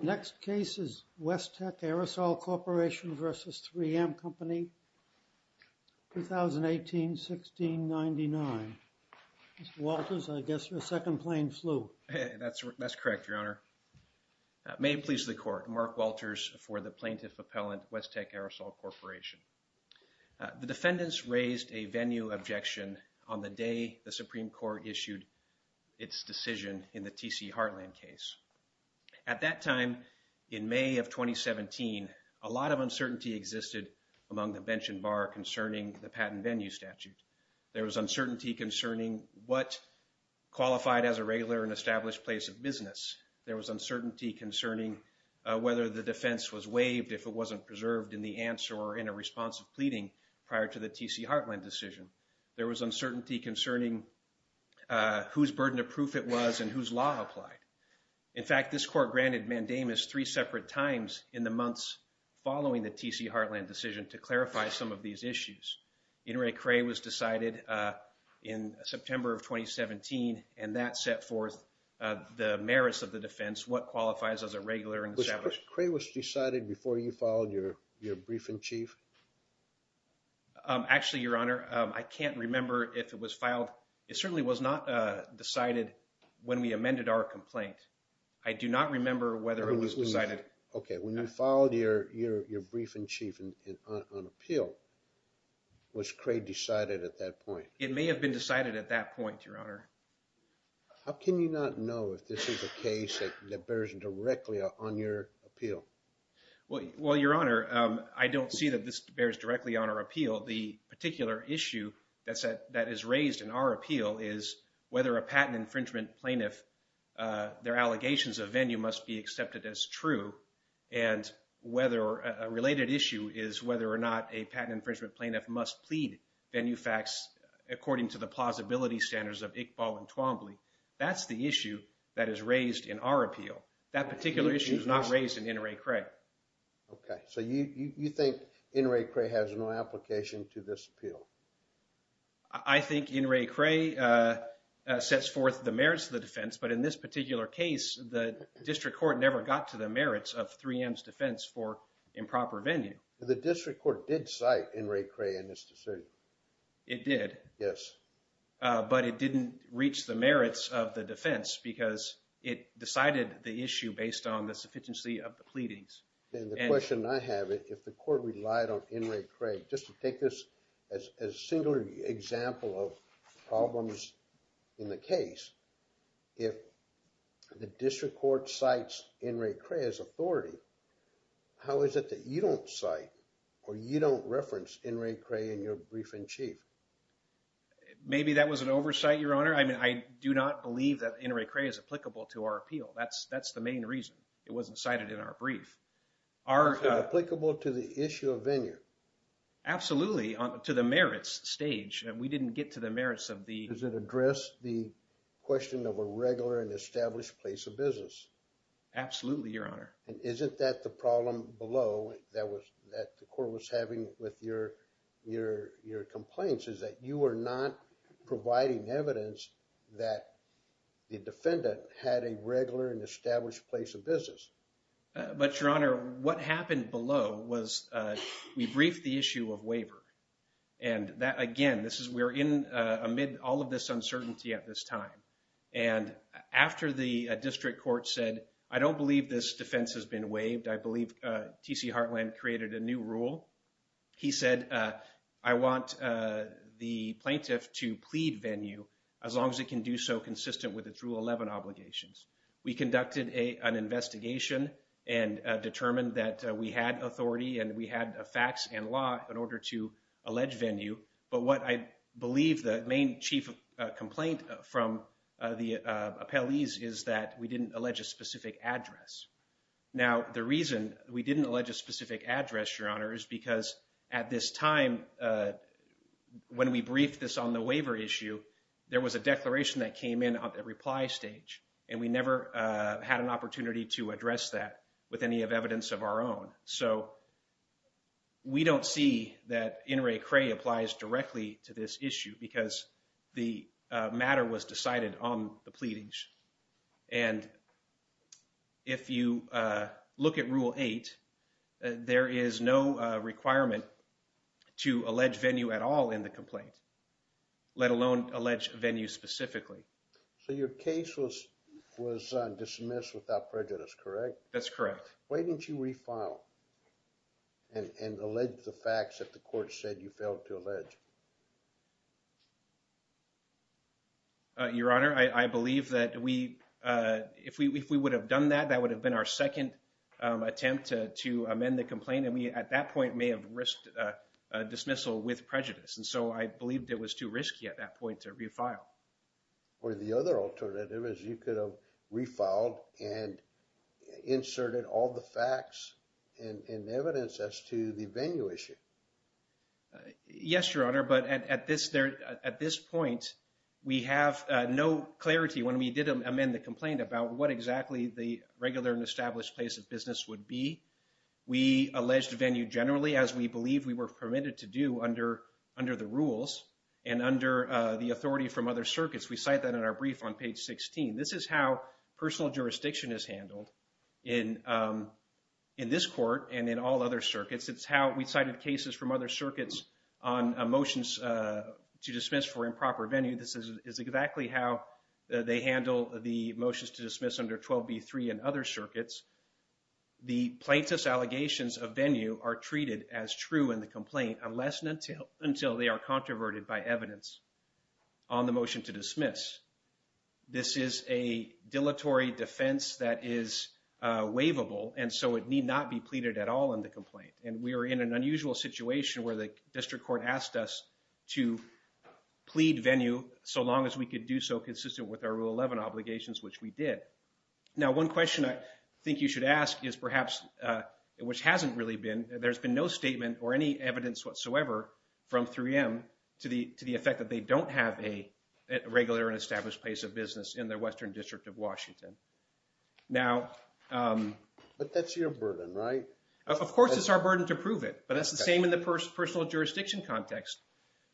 Next case is Westech Aerosol Corporation v. 3M Company, 2018-1699. Mr. Walters, I guess you're a second plane flu. That's correct, Your Honor. May it please the Court, Mark Walters for the Plaintiff Appellant, Westech Aerosol Corporation. The defendants raised a venue objection on the day the Supreme Court issued its decision in the T.C. Heartland case. At that time, in May of 2017, a lot of uncertainty existed among the bench and bar concerning the patent venue statute. There was uncertainty concerning what qualified as a regular and established place of business. There was uncertainty concerning whether the defense was waived if it wasn't preserved in the answer or in a response of pleading prior to the T.C. Heartland decision. There was uncertainty concerning whose burden of proof it was and whose law applied. In fact, this Court granted mandamus three separate times in the months following the T.C. Heartland decision to clarify some of these issues. In re Cray was decided in September of 2017 and that set forth the merits of the defense, what qualifies as a regular and established. Cray was decided before you followed your your brief and chief. Um, actually, Your Honor, I can't remember if it was filed. It certainly was not decided when we amended our complaint. I do not remember whether it was decided. Okay. When you followed your your your brief and chief on appeal. Was Cray decided at that point? It may have been decided at that point, Your Honor. How can you not know if this is a case that bears directly on your appeal? Well, well, Your Honor, I don't see that this bears directly on our appeal. The particular issue that said that is raised in our appeal is whether a patent infringement plaintiff. Their allegations of venue must be accepted as true and whether a related issue is whether or not a patent infringement plaintiff must plead venue facts according to the plausibility standards of Iqbal and Twombly. That's the issue that is raised in our appeal. That particular issue is not raised in in re Cray. Okay, so you you think in re Cray has no application to this appeal. I think in re Cray sets forth the merits of the defense. But in this particular case, the district court never got to the merits of three M's defense for improper venue. The district court did cite in re Cray in this decision. It did. Yes. But it didn't reach the merits of the defense because it decided the issue based on the sufficiency of the pleadings. And the question I have it if the court relied on in re Cray, just to take this as a singular example of problems in the case. If the district court sites in re Cray as authority, how is it that you don't cite or you don't reference in re Cray in your brief in chief? Maybe that was an oversight, your honor. I mean, I do not believe that in re Cray is applicable to our appeal. That's that's the main reason it wasn't cited in our brief. Are applicable to the issue of venue? Absolutely. To the merits stage. And we didn't get to the merits of the address the question of a regular and established place of business. Absolutely. Your honor. And isn't that the problem below that was that the court was having with your your your complaints is that you are not providing evidence that the defendant had a regular and established place of business. But your honor, what happened below was we briefed the issue of waiver. And that again, this is we're in amid all of this uncertainty at this time. And after the district court said, I don't believe this defense has been waived. I believe TC Heartland created a new rule. He said, I want the plaintiff to plead venue as long as it can do so consistent with its rule. Eleven obligations. We conducted a an investigation and determined that we had authority and we had a fax and law in order to allege venue. But what I believe the main chief complaint from the appellees is that we didn't allege a specific address. Now, the reason we didn't allege a specific address, your honor, is because at this time, when we briefed this on the waiver issue, there was a declaration that came in on the reply stage. And we never had an opportunity to address that with any of evidence of our own. So we don't see that in Ray Cray applies directly to this issue because the matter was decided on the pleadings. And if you look at rule eight, there is no requirement to allege venue at all in the complaint, let alone allege venue specifically. So your case was was dismissed without prejudice, correct? That's correct. Why didn't you refile and allege the facts that the court said you failed to allege? Your honor, I believe that we if we if we would have done that, that would have been our second attempt to amend the complaint. And we at that point may have risked dismissal with prejudice. And so I believed it was too risky at that point to refile. Or the other alternative is you could have refiled and inserted all the facts and evidence as to the venue issue. Yes, your honor. But at this point, we have no clarity when we did amend the complaint about what exactly the regular and established place of business would be. We alleged venue generally, as we believe we were permitted to do under the rules and under the authority from other circuits. We cite that in our brief on page 16. This is how personal jurisdiction is handled in in this court and in all other circuits. It's how we cited cases from other circuits on motions to dismiss for improper venue. This is exactly how they handle the motions to dismiss under 12 B3 and other circuits. The plaintiff's allegations of venue are treated as true in the complaint unless and until until they are controverted by evidence. On the motion to dismiss, this is a dilatory defense that is waivable, and so it need not be pleaded at all in the complaint. And we are in an unusual situation where the district court asked us to plead venue so long as we could do so consistent with our rule 11 obligations, which we did. Now, one question I think you should ask is perhaps, which hasn't really been, there's been no statement or any evidence whatsoever from 3M to the to the effect that they don't have a regular and established place of business in the Western District of Washington. Now, but that's your burden, right? Of course, it's our burden to prove it, but that's the same in the personal jurisdiction context.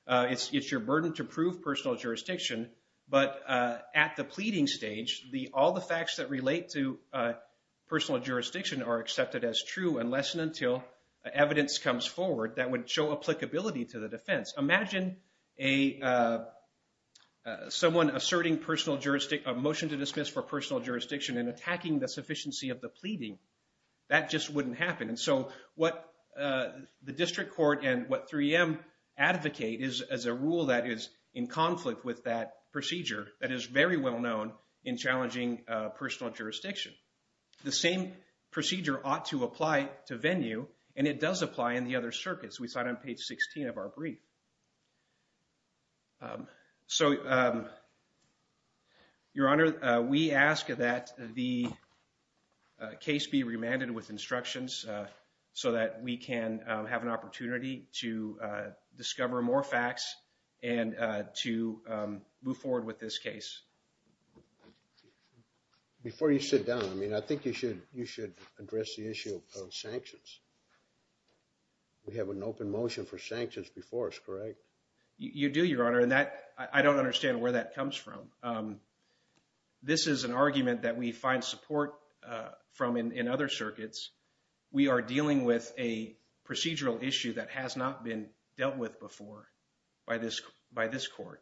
It's your burden to prove personal jurisdiction, but at the pleading stage, all the facts that relate to personal jurisdiction are accepted as true unless and until evidence comes forward that would show applicability to the defense. Imagine someone asserting a motion to dismiss for personal jurisdiction and attacking the sufficiency of the pleading. That just wouldn't happen, and so what the district court and what 3M advocate is as a rule that is in conflict with that procedure that is very well known in challenging personal jurisdiction. The same procedure ought to apply to venue, and it does apply in the other circuits. We cite on page 16 of our brief. So. Your Honor, we ask that the case be remanded with instructions so that we can have an opportunity to discover more facts and to move forward with this case. Before you sit down, I mean, I think you should you should address the issue of sanctions. We have an open motion for sanctions before us, correct? You do, Your Honor, and that I don't understand where that comes from. This is an argument that we find support from in other circuits. We are dealing with a procedural issue that has not been dealt with before by this by this court.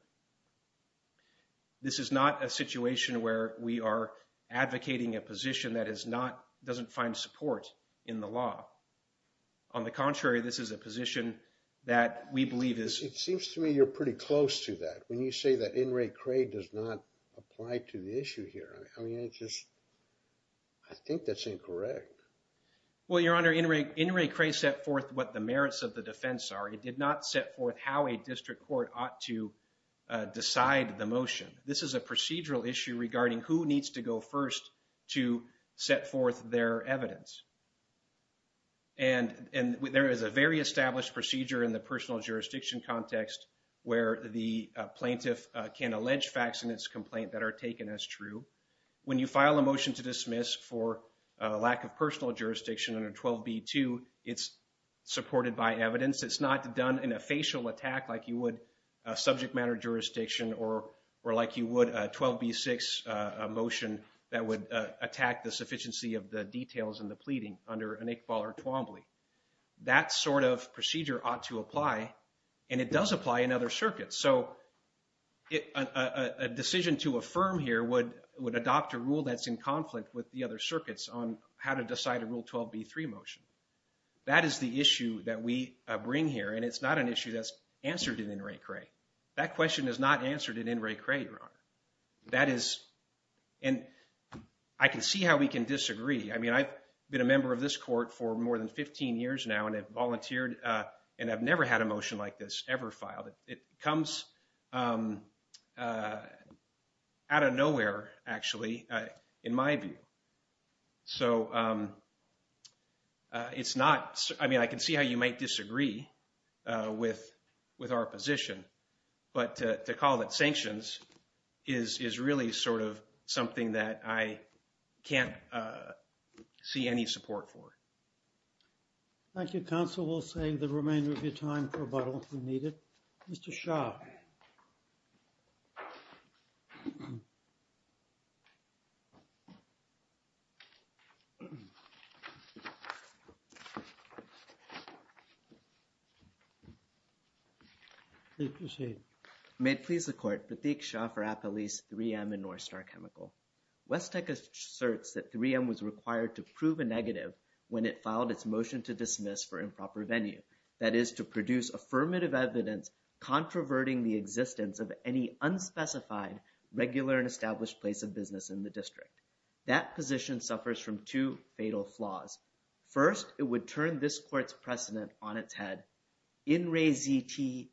This is not a situation where we are advocating a position that is not doesn't find support in the law. On the contrary, this is a position that we believe is. It seems to me you're pretty close to that when you say that in Ray Cray does not apply to the issue here. I mean, it's just. I think that's incorrect. Well, Your Honor, in Ray Cray set forth what the merits of the defense are. It did not set forth how a district court ought to decide the motion. This is a procedural issue regarding who needs to go first to set forth their evidence. And and there is a very established procedure in the personal jurisdiction context where the plaintiff can allege facts in its complaint that are taken as true. When you file a motion to dismiss for a lack of personal jurisdiction under 12b-2, it's supported by evidence. It's not done in a facial attack like you would subject matter jurisdiction or or like you would 12b-6 motion that would attack the sufficiency of the details in the pleading under an Iqbal or Twombly. That sort of procedure ought to apply and it does apply in other circuits. So a decision to affirm here would would adopt a rule that's in conflict with the other circuits on how to decide a rule 12b-3 motion. That is the issue that we bring here and it's not an issue that's answered in Ray Cray. That question is not answered in Ray Cray, Your Honor. That is and I can see how we can disagree. I mean, I've been a member of this court for more than 15 years now and have volunteered and I've never had a motion like this ever filed. It comes out of nowhere, actually, in my view. So it's not I mean, I can see how you might disagree with with our position. But to call it sanctions is is really sort of something that I can't see any support for. Thank you, counsel. We'll save the remainder of your time for rebuttal if needed. Mr. Shah. Please proceed. May it please the court, Pratik Shah for Apolyse 3M and Northstar Chemical. West Tech asserts that 3M was required to prove a negative when it filed its motion to dismiss for improper venue. That is to produce affirmative evidence controverting the existence of any unspecified regular and established place of business in the district. That position suffers from two fatal flaws. First, it would turn this court's precedent on its head. In Ray ZTE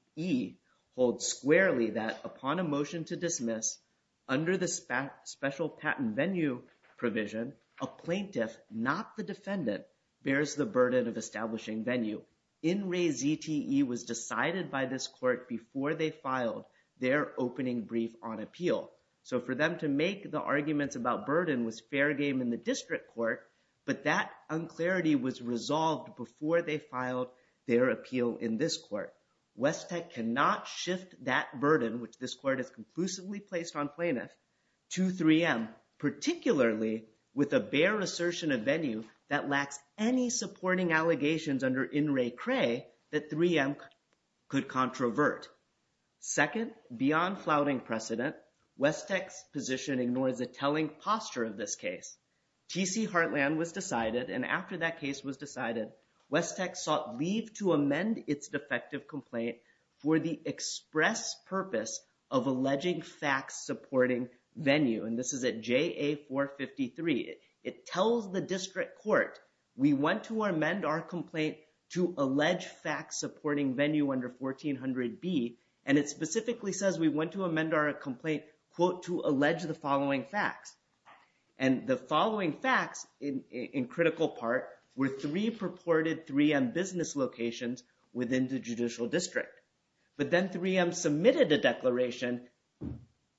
holds squarely that upon a motion to dismiss under the special patent venue provision, a plaintiff, not the defendant, bears the burden of establishing venue. In Ray ZTE was decided by this court before they filed their opening brief on appeal. So for them to make the arguments about burden was fair game in the district court. But that unclarity was resolved before they filed their appeal in this court. West Tech cannot shift that burden, which this court is conclusively placed on plaintiff to 3M, particularly with a bear assertion of venue that lacks any supporting allegations under in Ray Cray that 3M could controvert. Second, beyond flouting precedent, West Tech's position ignores the telling posture of this case. TC Heartland was decided and after that case was decided, West Tech sought leave to amend its defective complaint for the express purpose of alleging facts supporting venue. And this is at JA 453. It tells the district court, we want to amend our complaint to allege facts supporting venue under 1400B. And it specifically says we want to amend our complaint, quote, to allege the following facts. And the following facts in critical part were three purported 3M business locations within the judicial district. But then 3M submitted a declaration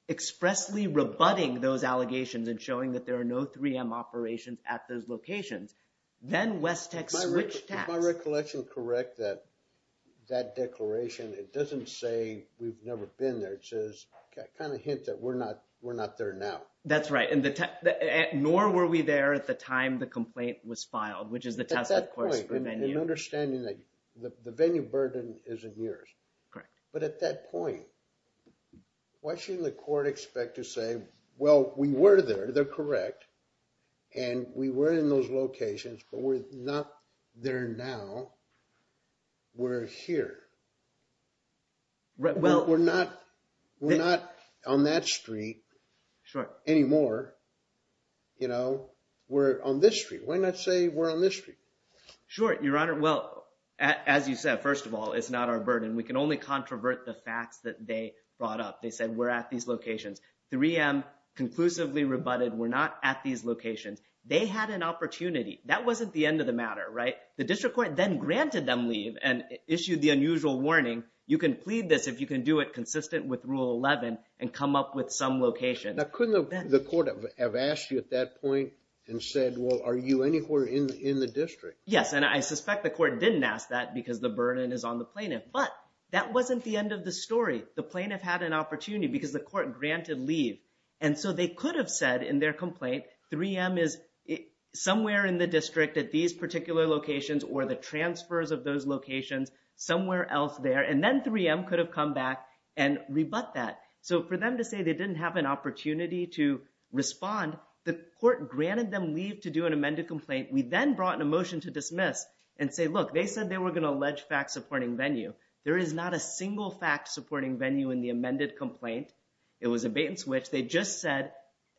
expressly rebutting those allegations and showing that there are no 3M operations at those locations. Then West Tech switched tasks. Is my recollection correct that that declaration, it doesn't say we've never been there. It says, kind of hint that we're not there now. That's right. Nor were we there at the time the complaint was filed, which is the test, of course, for venue. And understanding that the venue burden is in years. Correct. But at that point, why shouldn't the court expect to say, well, we were there. They're correct. And we were in those locations, but we're not there now. We're here. We're not on that street anymore. You know, we're on this street. Why not say we're on this street? Sure, Your Honor. Well, as you said, first of all, it's not our burden. We can only controvert the facts that they brought up. They said we're at these locations. 3M conclusively rebutted we're not at these locations. They had an opportunity. That wasn't the end of the matter, right? The district court then granted them leave and issued the unusual warning. You can plead this if you can do it consistent with Rule 11 and come up with some location. Now, couldn't the court have asked you at that point and said, well, are you anywhere in the district? Yes, and I suspect the court didn't ask that because the burden is on the plaintiff. But that wasn't the end of the story. The plaintiff had an opportunity because the court granted leave. And so they could have said in their complaint 3M is somewhere in the district at these particular locations or the transfers of those locations somewhere else there. And then 3M could have come back and rebut that. So for them to say they didn't have an opportunity to respond, the court granted them leave to do an amended complaint. We then brought in a motion to dismiss and say, look, they said they were going to allege fact-supporting venue. There is not a single fact-supporting venue in the amended complaint. It was a bait and switch. They just said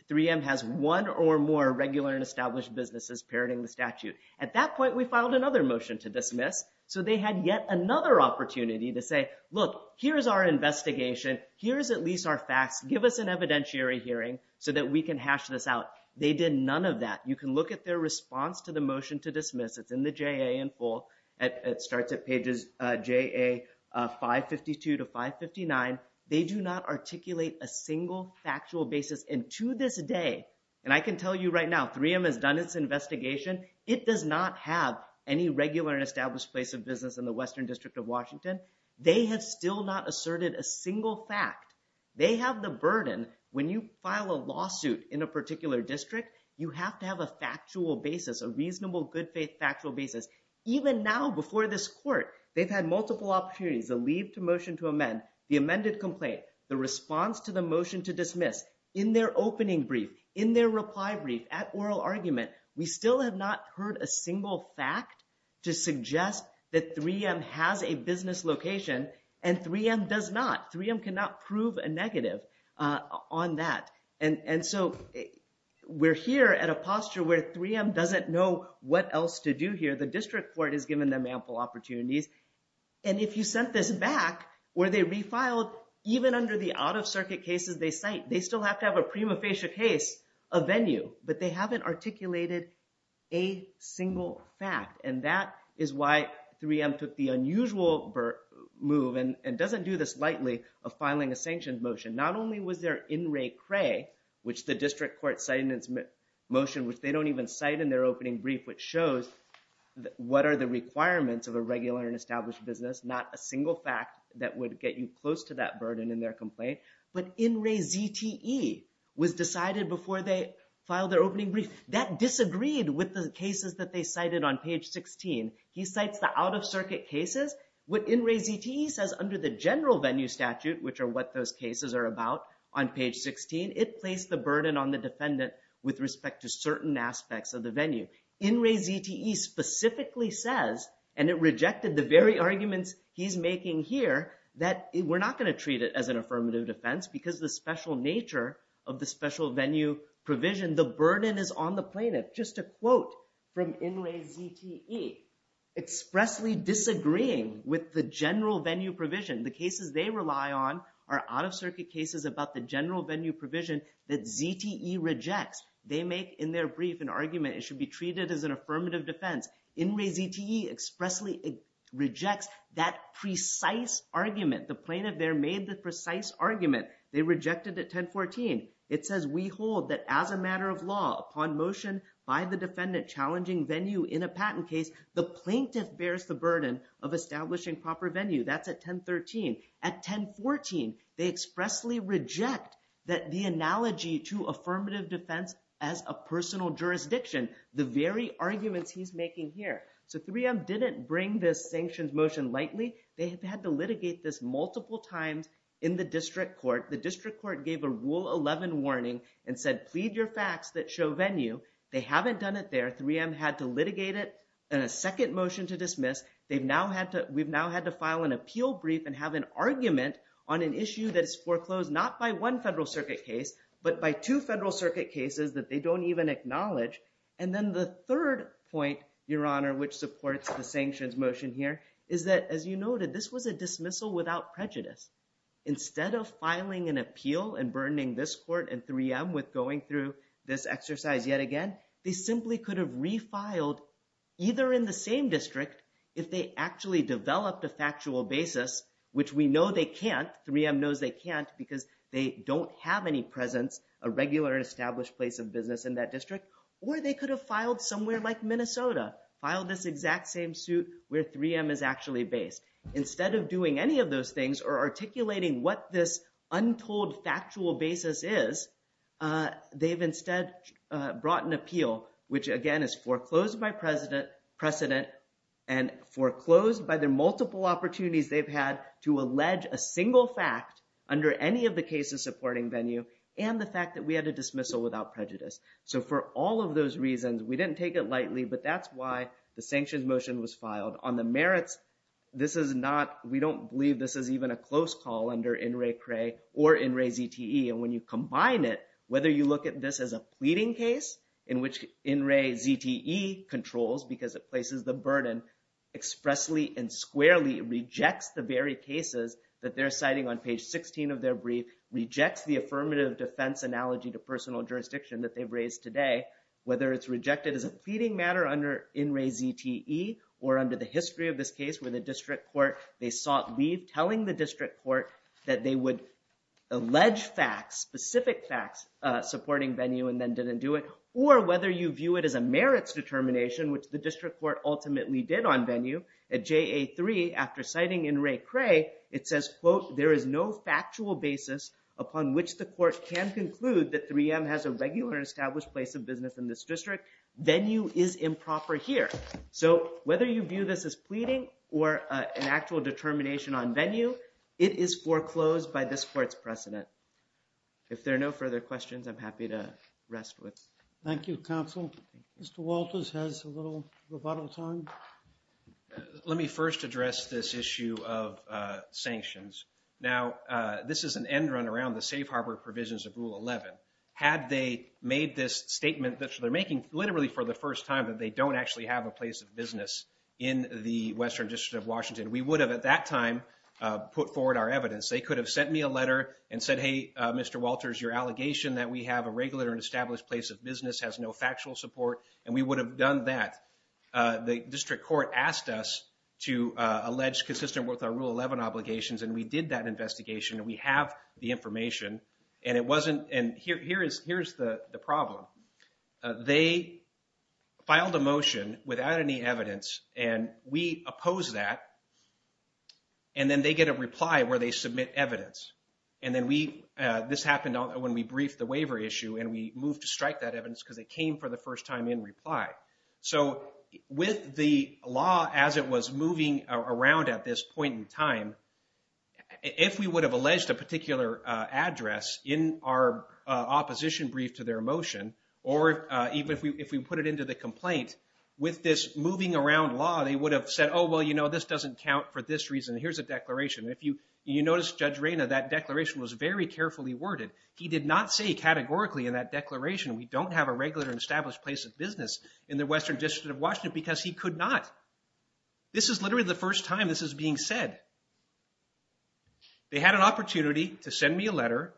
3M has one or more regular and established businesses parroting the statute. At that point, we filed another motion to dismiss. So they had yet another opportunity to say, look, here's our investigation. Here's at least our facts. Give us an evidentiary hearing so that we can hash this out. They did none of that. You can look at their response to the motion to dismiss. It's in the JA in full. It starts at pages JA 552 to 559. They do not articulate a single factual basis. And to this day, and I can tell you right now, 3M has done its investigation. It does not have any regular and established place of business in the Western District of Washington. They have still not asserted a single fact. They have the burden. When you file a lawsuit in a particular district, you have to have a factual basis, a reasonable, good-faith factual basis. Even now before this court, they've had multiple opportunities, a leave to motion to amend, the amended complaint, the response to the motion to dismiss. In their opening brief, in their reply brief, at oral argument, we still have not heard a single fact to suggest that 3M has a business location. And 3M does not. 3M cannot prove a negative on that. And so we're here at a posture where 3M doesn't know what else to do here. The district court has given them ample opportunities. And if you sent this back, were they refiled, even under the out-of-circuit cases they cite, they still have to have a prima facie case, a venue. But they haven't articulated a single fact. And that is why 3M took the unusual move, and doesn't do this lightly, of filing a sanctioned motion. Not only was there In Re Cray, which the district court cited in its motion, which they don't even cite in their opening brief, which shows what are the requirements of a regular and established business, not a single fact that would get you close to that burden in their complaint. But In Re ZTE was decided before they filed their opening brief. That disagreed with the cases that they cited on page 16. He cites the out-of-circuit cases. What In Re ZTE says under the general venue statute, which are what those cases are about on page 16, it placed the burden on the defendant with respect to certain aspects of the venue. In Re ZTE specifically says, and it rejected the very arguments he's making here, that we're not going to treat it as an affirmative defense because the special nature of the special venue provision, the burden is on the plaintiff. Just a quote from In Re ZTE, expressly disagreeing with the general venue provision. The cases they rely on are out-of-circuit cases about the general venue provision that ZTE rejects. They make in their brief an argument it should be treated as an affirmative defense. In Re ZTE expressly rejects that precise argument. The plaintiff there made the precise argument. They rejected it 1014. It says we hold that as a matter of law upon motion by the defendant challenging venue in a patent case, the plaintiff bears the burden of establishing proper venue. That's at 1013. At 1014, they expressly reject that the analogy to affirmative defense as a personal jurisdiction, the very arguments he's making here. So 3M didn't bring this sanctions motion lightly. They have had to litigate this multiple times in the district court. The district court gave a rule 11 warning and said plead your facts that show venue. They haven't done it there. 3M had to litigate it in a second motion to dismiss. We've now had to file an appeal brief and have an argument on an issue that is foreclosed not by one federal circuit case, but by two federal circuit cases that they don't even acknowledge. And then the third point, Your Honor, which supports the sanctions motion here, is that, as you noted, this was a dismissal without prejudice. Instead of filing an appeal and burdening this court and 3M with going through this exercise yet again, they simply could have refiled either in the same district if they actually developed a factual basis, which we know they can't. 3M knows they can't because they don't have any presence, a regular established place of business in that district, or they could have filed somewhere like Minnesota, filed this exact same suit where 3M is actually based. Instead of doing any of those things or articulating what this untold factual basis is, they've instead brought an appeal which, again, is foreclosed by precedent and foreclosed by the multiple opportunities they've had to allege a single fact under any of the cases supporting venue and the fact that we had a dismissal without prejudice. So for all of those reasons, we didn't take it lightly, but that's why the sanctions motion was filed. On the merits, we don't believe this is even a close call under INRAE-CRE or INRAE-ZTE. And when you combine it, whether you look at this as a pleading case in which INRAE-ZTE controls because it places the burden expressly and squarely, rejects the very cases that they're citing on page 16 of their brief, rejects the affirmative defense analogy to personal jurisdiction that they've raised today, whether it's rejected as a pleading matter under INRAE-ZTE or under the history of this case where the district court, they sought leave telling the district court that they would allege facts, specific facts supporting venue and then didn't do it, or whether you view it as a merits determination, which the district court ultimately did on venue at JA-3 after citing INRAE-CRE, it says, quote, there is no factual basis upon which the court can conclude that 3M has a regular established place of business in this district. Venue is improper here. So whether you view this as pleading or an actual determination on venue, it is foreclosed by this court's precedent. If there are no further questions, I'm happy to rest with. Thank you, counsel. Mr. Walters has a little rebuttal time. Let me first address this issue of sanctions. Now, this is an end run around the safe harbor provisions of Rule 11. Had they made this statement, which they're making literally for the first time, that they don't actually have a place of business in the Western District of Washington, we would have at that time put forward our evidence. They could have sent me a letter and said, hey, Mr. Walters, your allegation that we have a regular and established place of business has no factual support, and we would have done that. The district court asked us to allege consistent with our Rule 11 obligations, and we did that investigation, and we have the information. And here's the problem. They filed a motion without any evidence, and we oppose that. And then they get a reply where they submit evidence. And this happened when we briefed the waiver issue, and we moved to strike that evidence because it came for the first time in reply. So with the law as it was moving around at this point in time, if we would have alleged a particular address in our opposition brief to their motion, or even if we put it into the complaint, with this moving around law, they would have said, oh, well, you know, this doesn't count for this reason. Here's a declaration. If you notice, Judge Reyna, that declaration was very carefully worded. He did not say categorically in that declaration we don't have a regular and established place of business in the Western District of Washington because he could not. This is literally the first time this is being said. They had an opportunity to send me a letter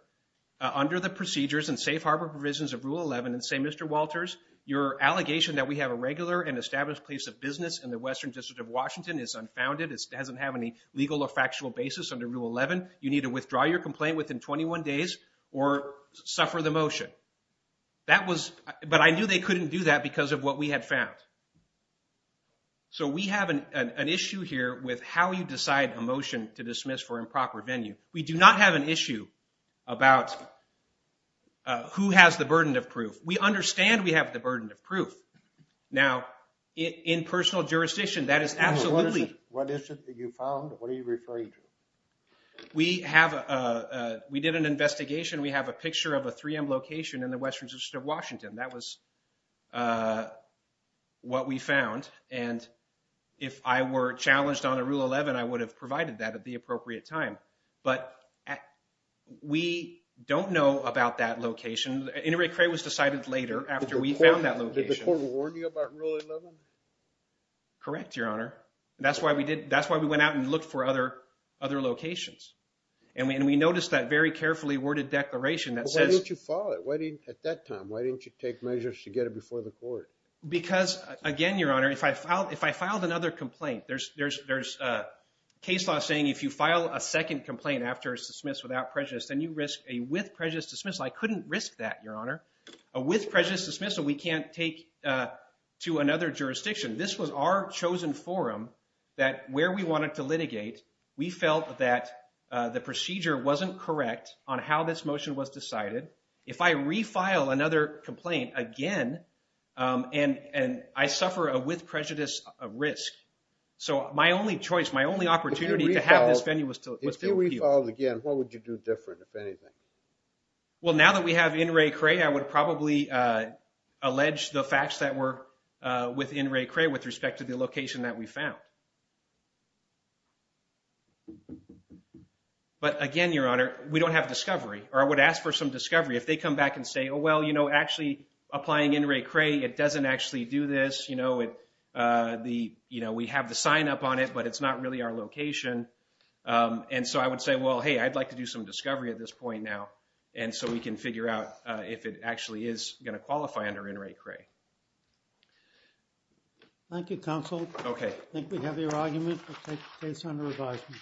under the procedures and safe harbor provisions of Rule 11 and say, Mr. Walters, your allegation that we have a regular and established place of business in the Western District of Washington is unfounded. It doesn't have any legal or factual basis under Rule 11. You need to withdraw your complaint within 21 days or suffer the motion. But I knew they couldn't do that because of what we had found. So we have an issue here with how you decide a motion to dismiss for improper venue. We do not have an issue about who has the burden of proof. We understand we have the burden of proof. Now, in personal jurisdiction, that is absolutely. What is it that you found? What are you referring to? We did an investigation. We have a picture of a 3M location in the Western District of Washington. That was what we found. And if I were challenged under Rule 11, I would have provided that at the appropriate time. But we don't know about that location. Inter-recreation was decided later after we found that location. Did the court warn you about Rule 11? Correct, Your Honor. That's why we went out and looked for other locations. And we noticed that very carefully worded declaration. Why didn't you follow it at that time? Why didn't you take measures to get it before the court? Because, again, Your Honor, if I filed another complaint, there's case law saying if you file a second complaint after it's dismissed without prejudice, then you risk a with prejudice dismissal. I couldn't risk that, Your Honor. A with prejudice dismissal we can't take to another jurisdiction. This was our chosen forum that where we wanted to litigate, we felt that the procedure wasn't correct on how this motion was decided. If I refile another complaint again, and I suffer a with prejudice risk. So my only choice, my only opportunity to have this venue was to appeal. If you refiled again, what would you do different, if anything? Well, now that we have N. Ray Cray, I would probably allege the facts that were with N. Ray Cray with respect to the location that we found. But, again, Your Honor, we don't have discovery, or I would ask for some discovery. If they come back and say, oh, well, you know, actually applying N. Ray Cray, it doesn't actually do this. You know, we have the sign up on it, but it's not really our location. And so I would say, well, hey, I'd like to do some discovery at this point now. And so we can figure out if it actually is going to qualify under N. Ray Cray. Thank you, counsel. Okay. I think we have your argument. We'll take the case under advisement.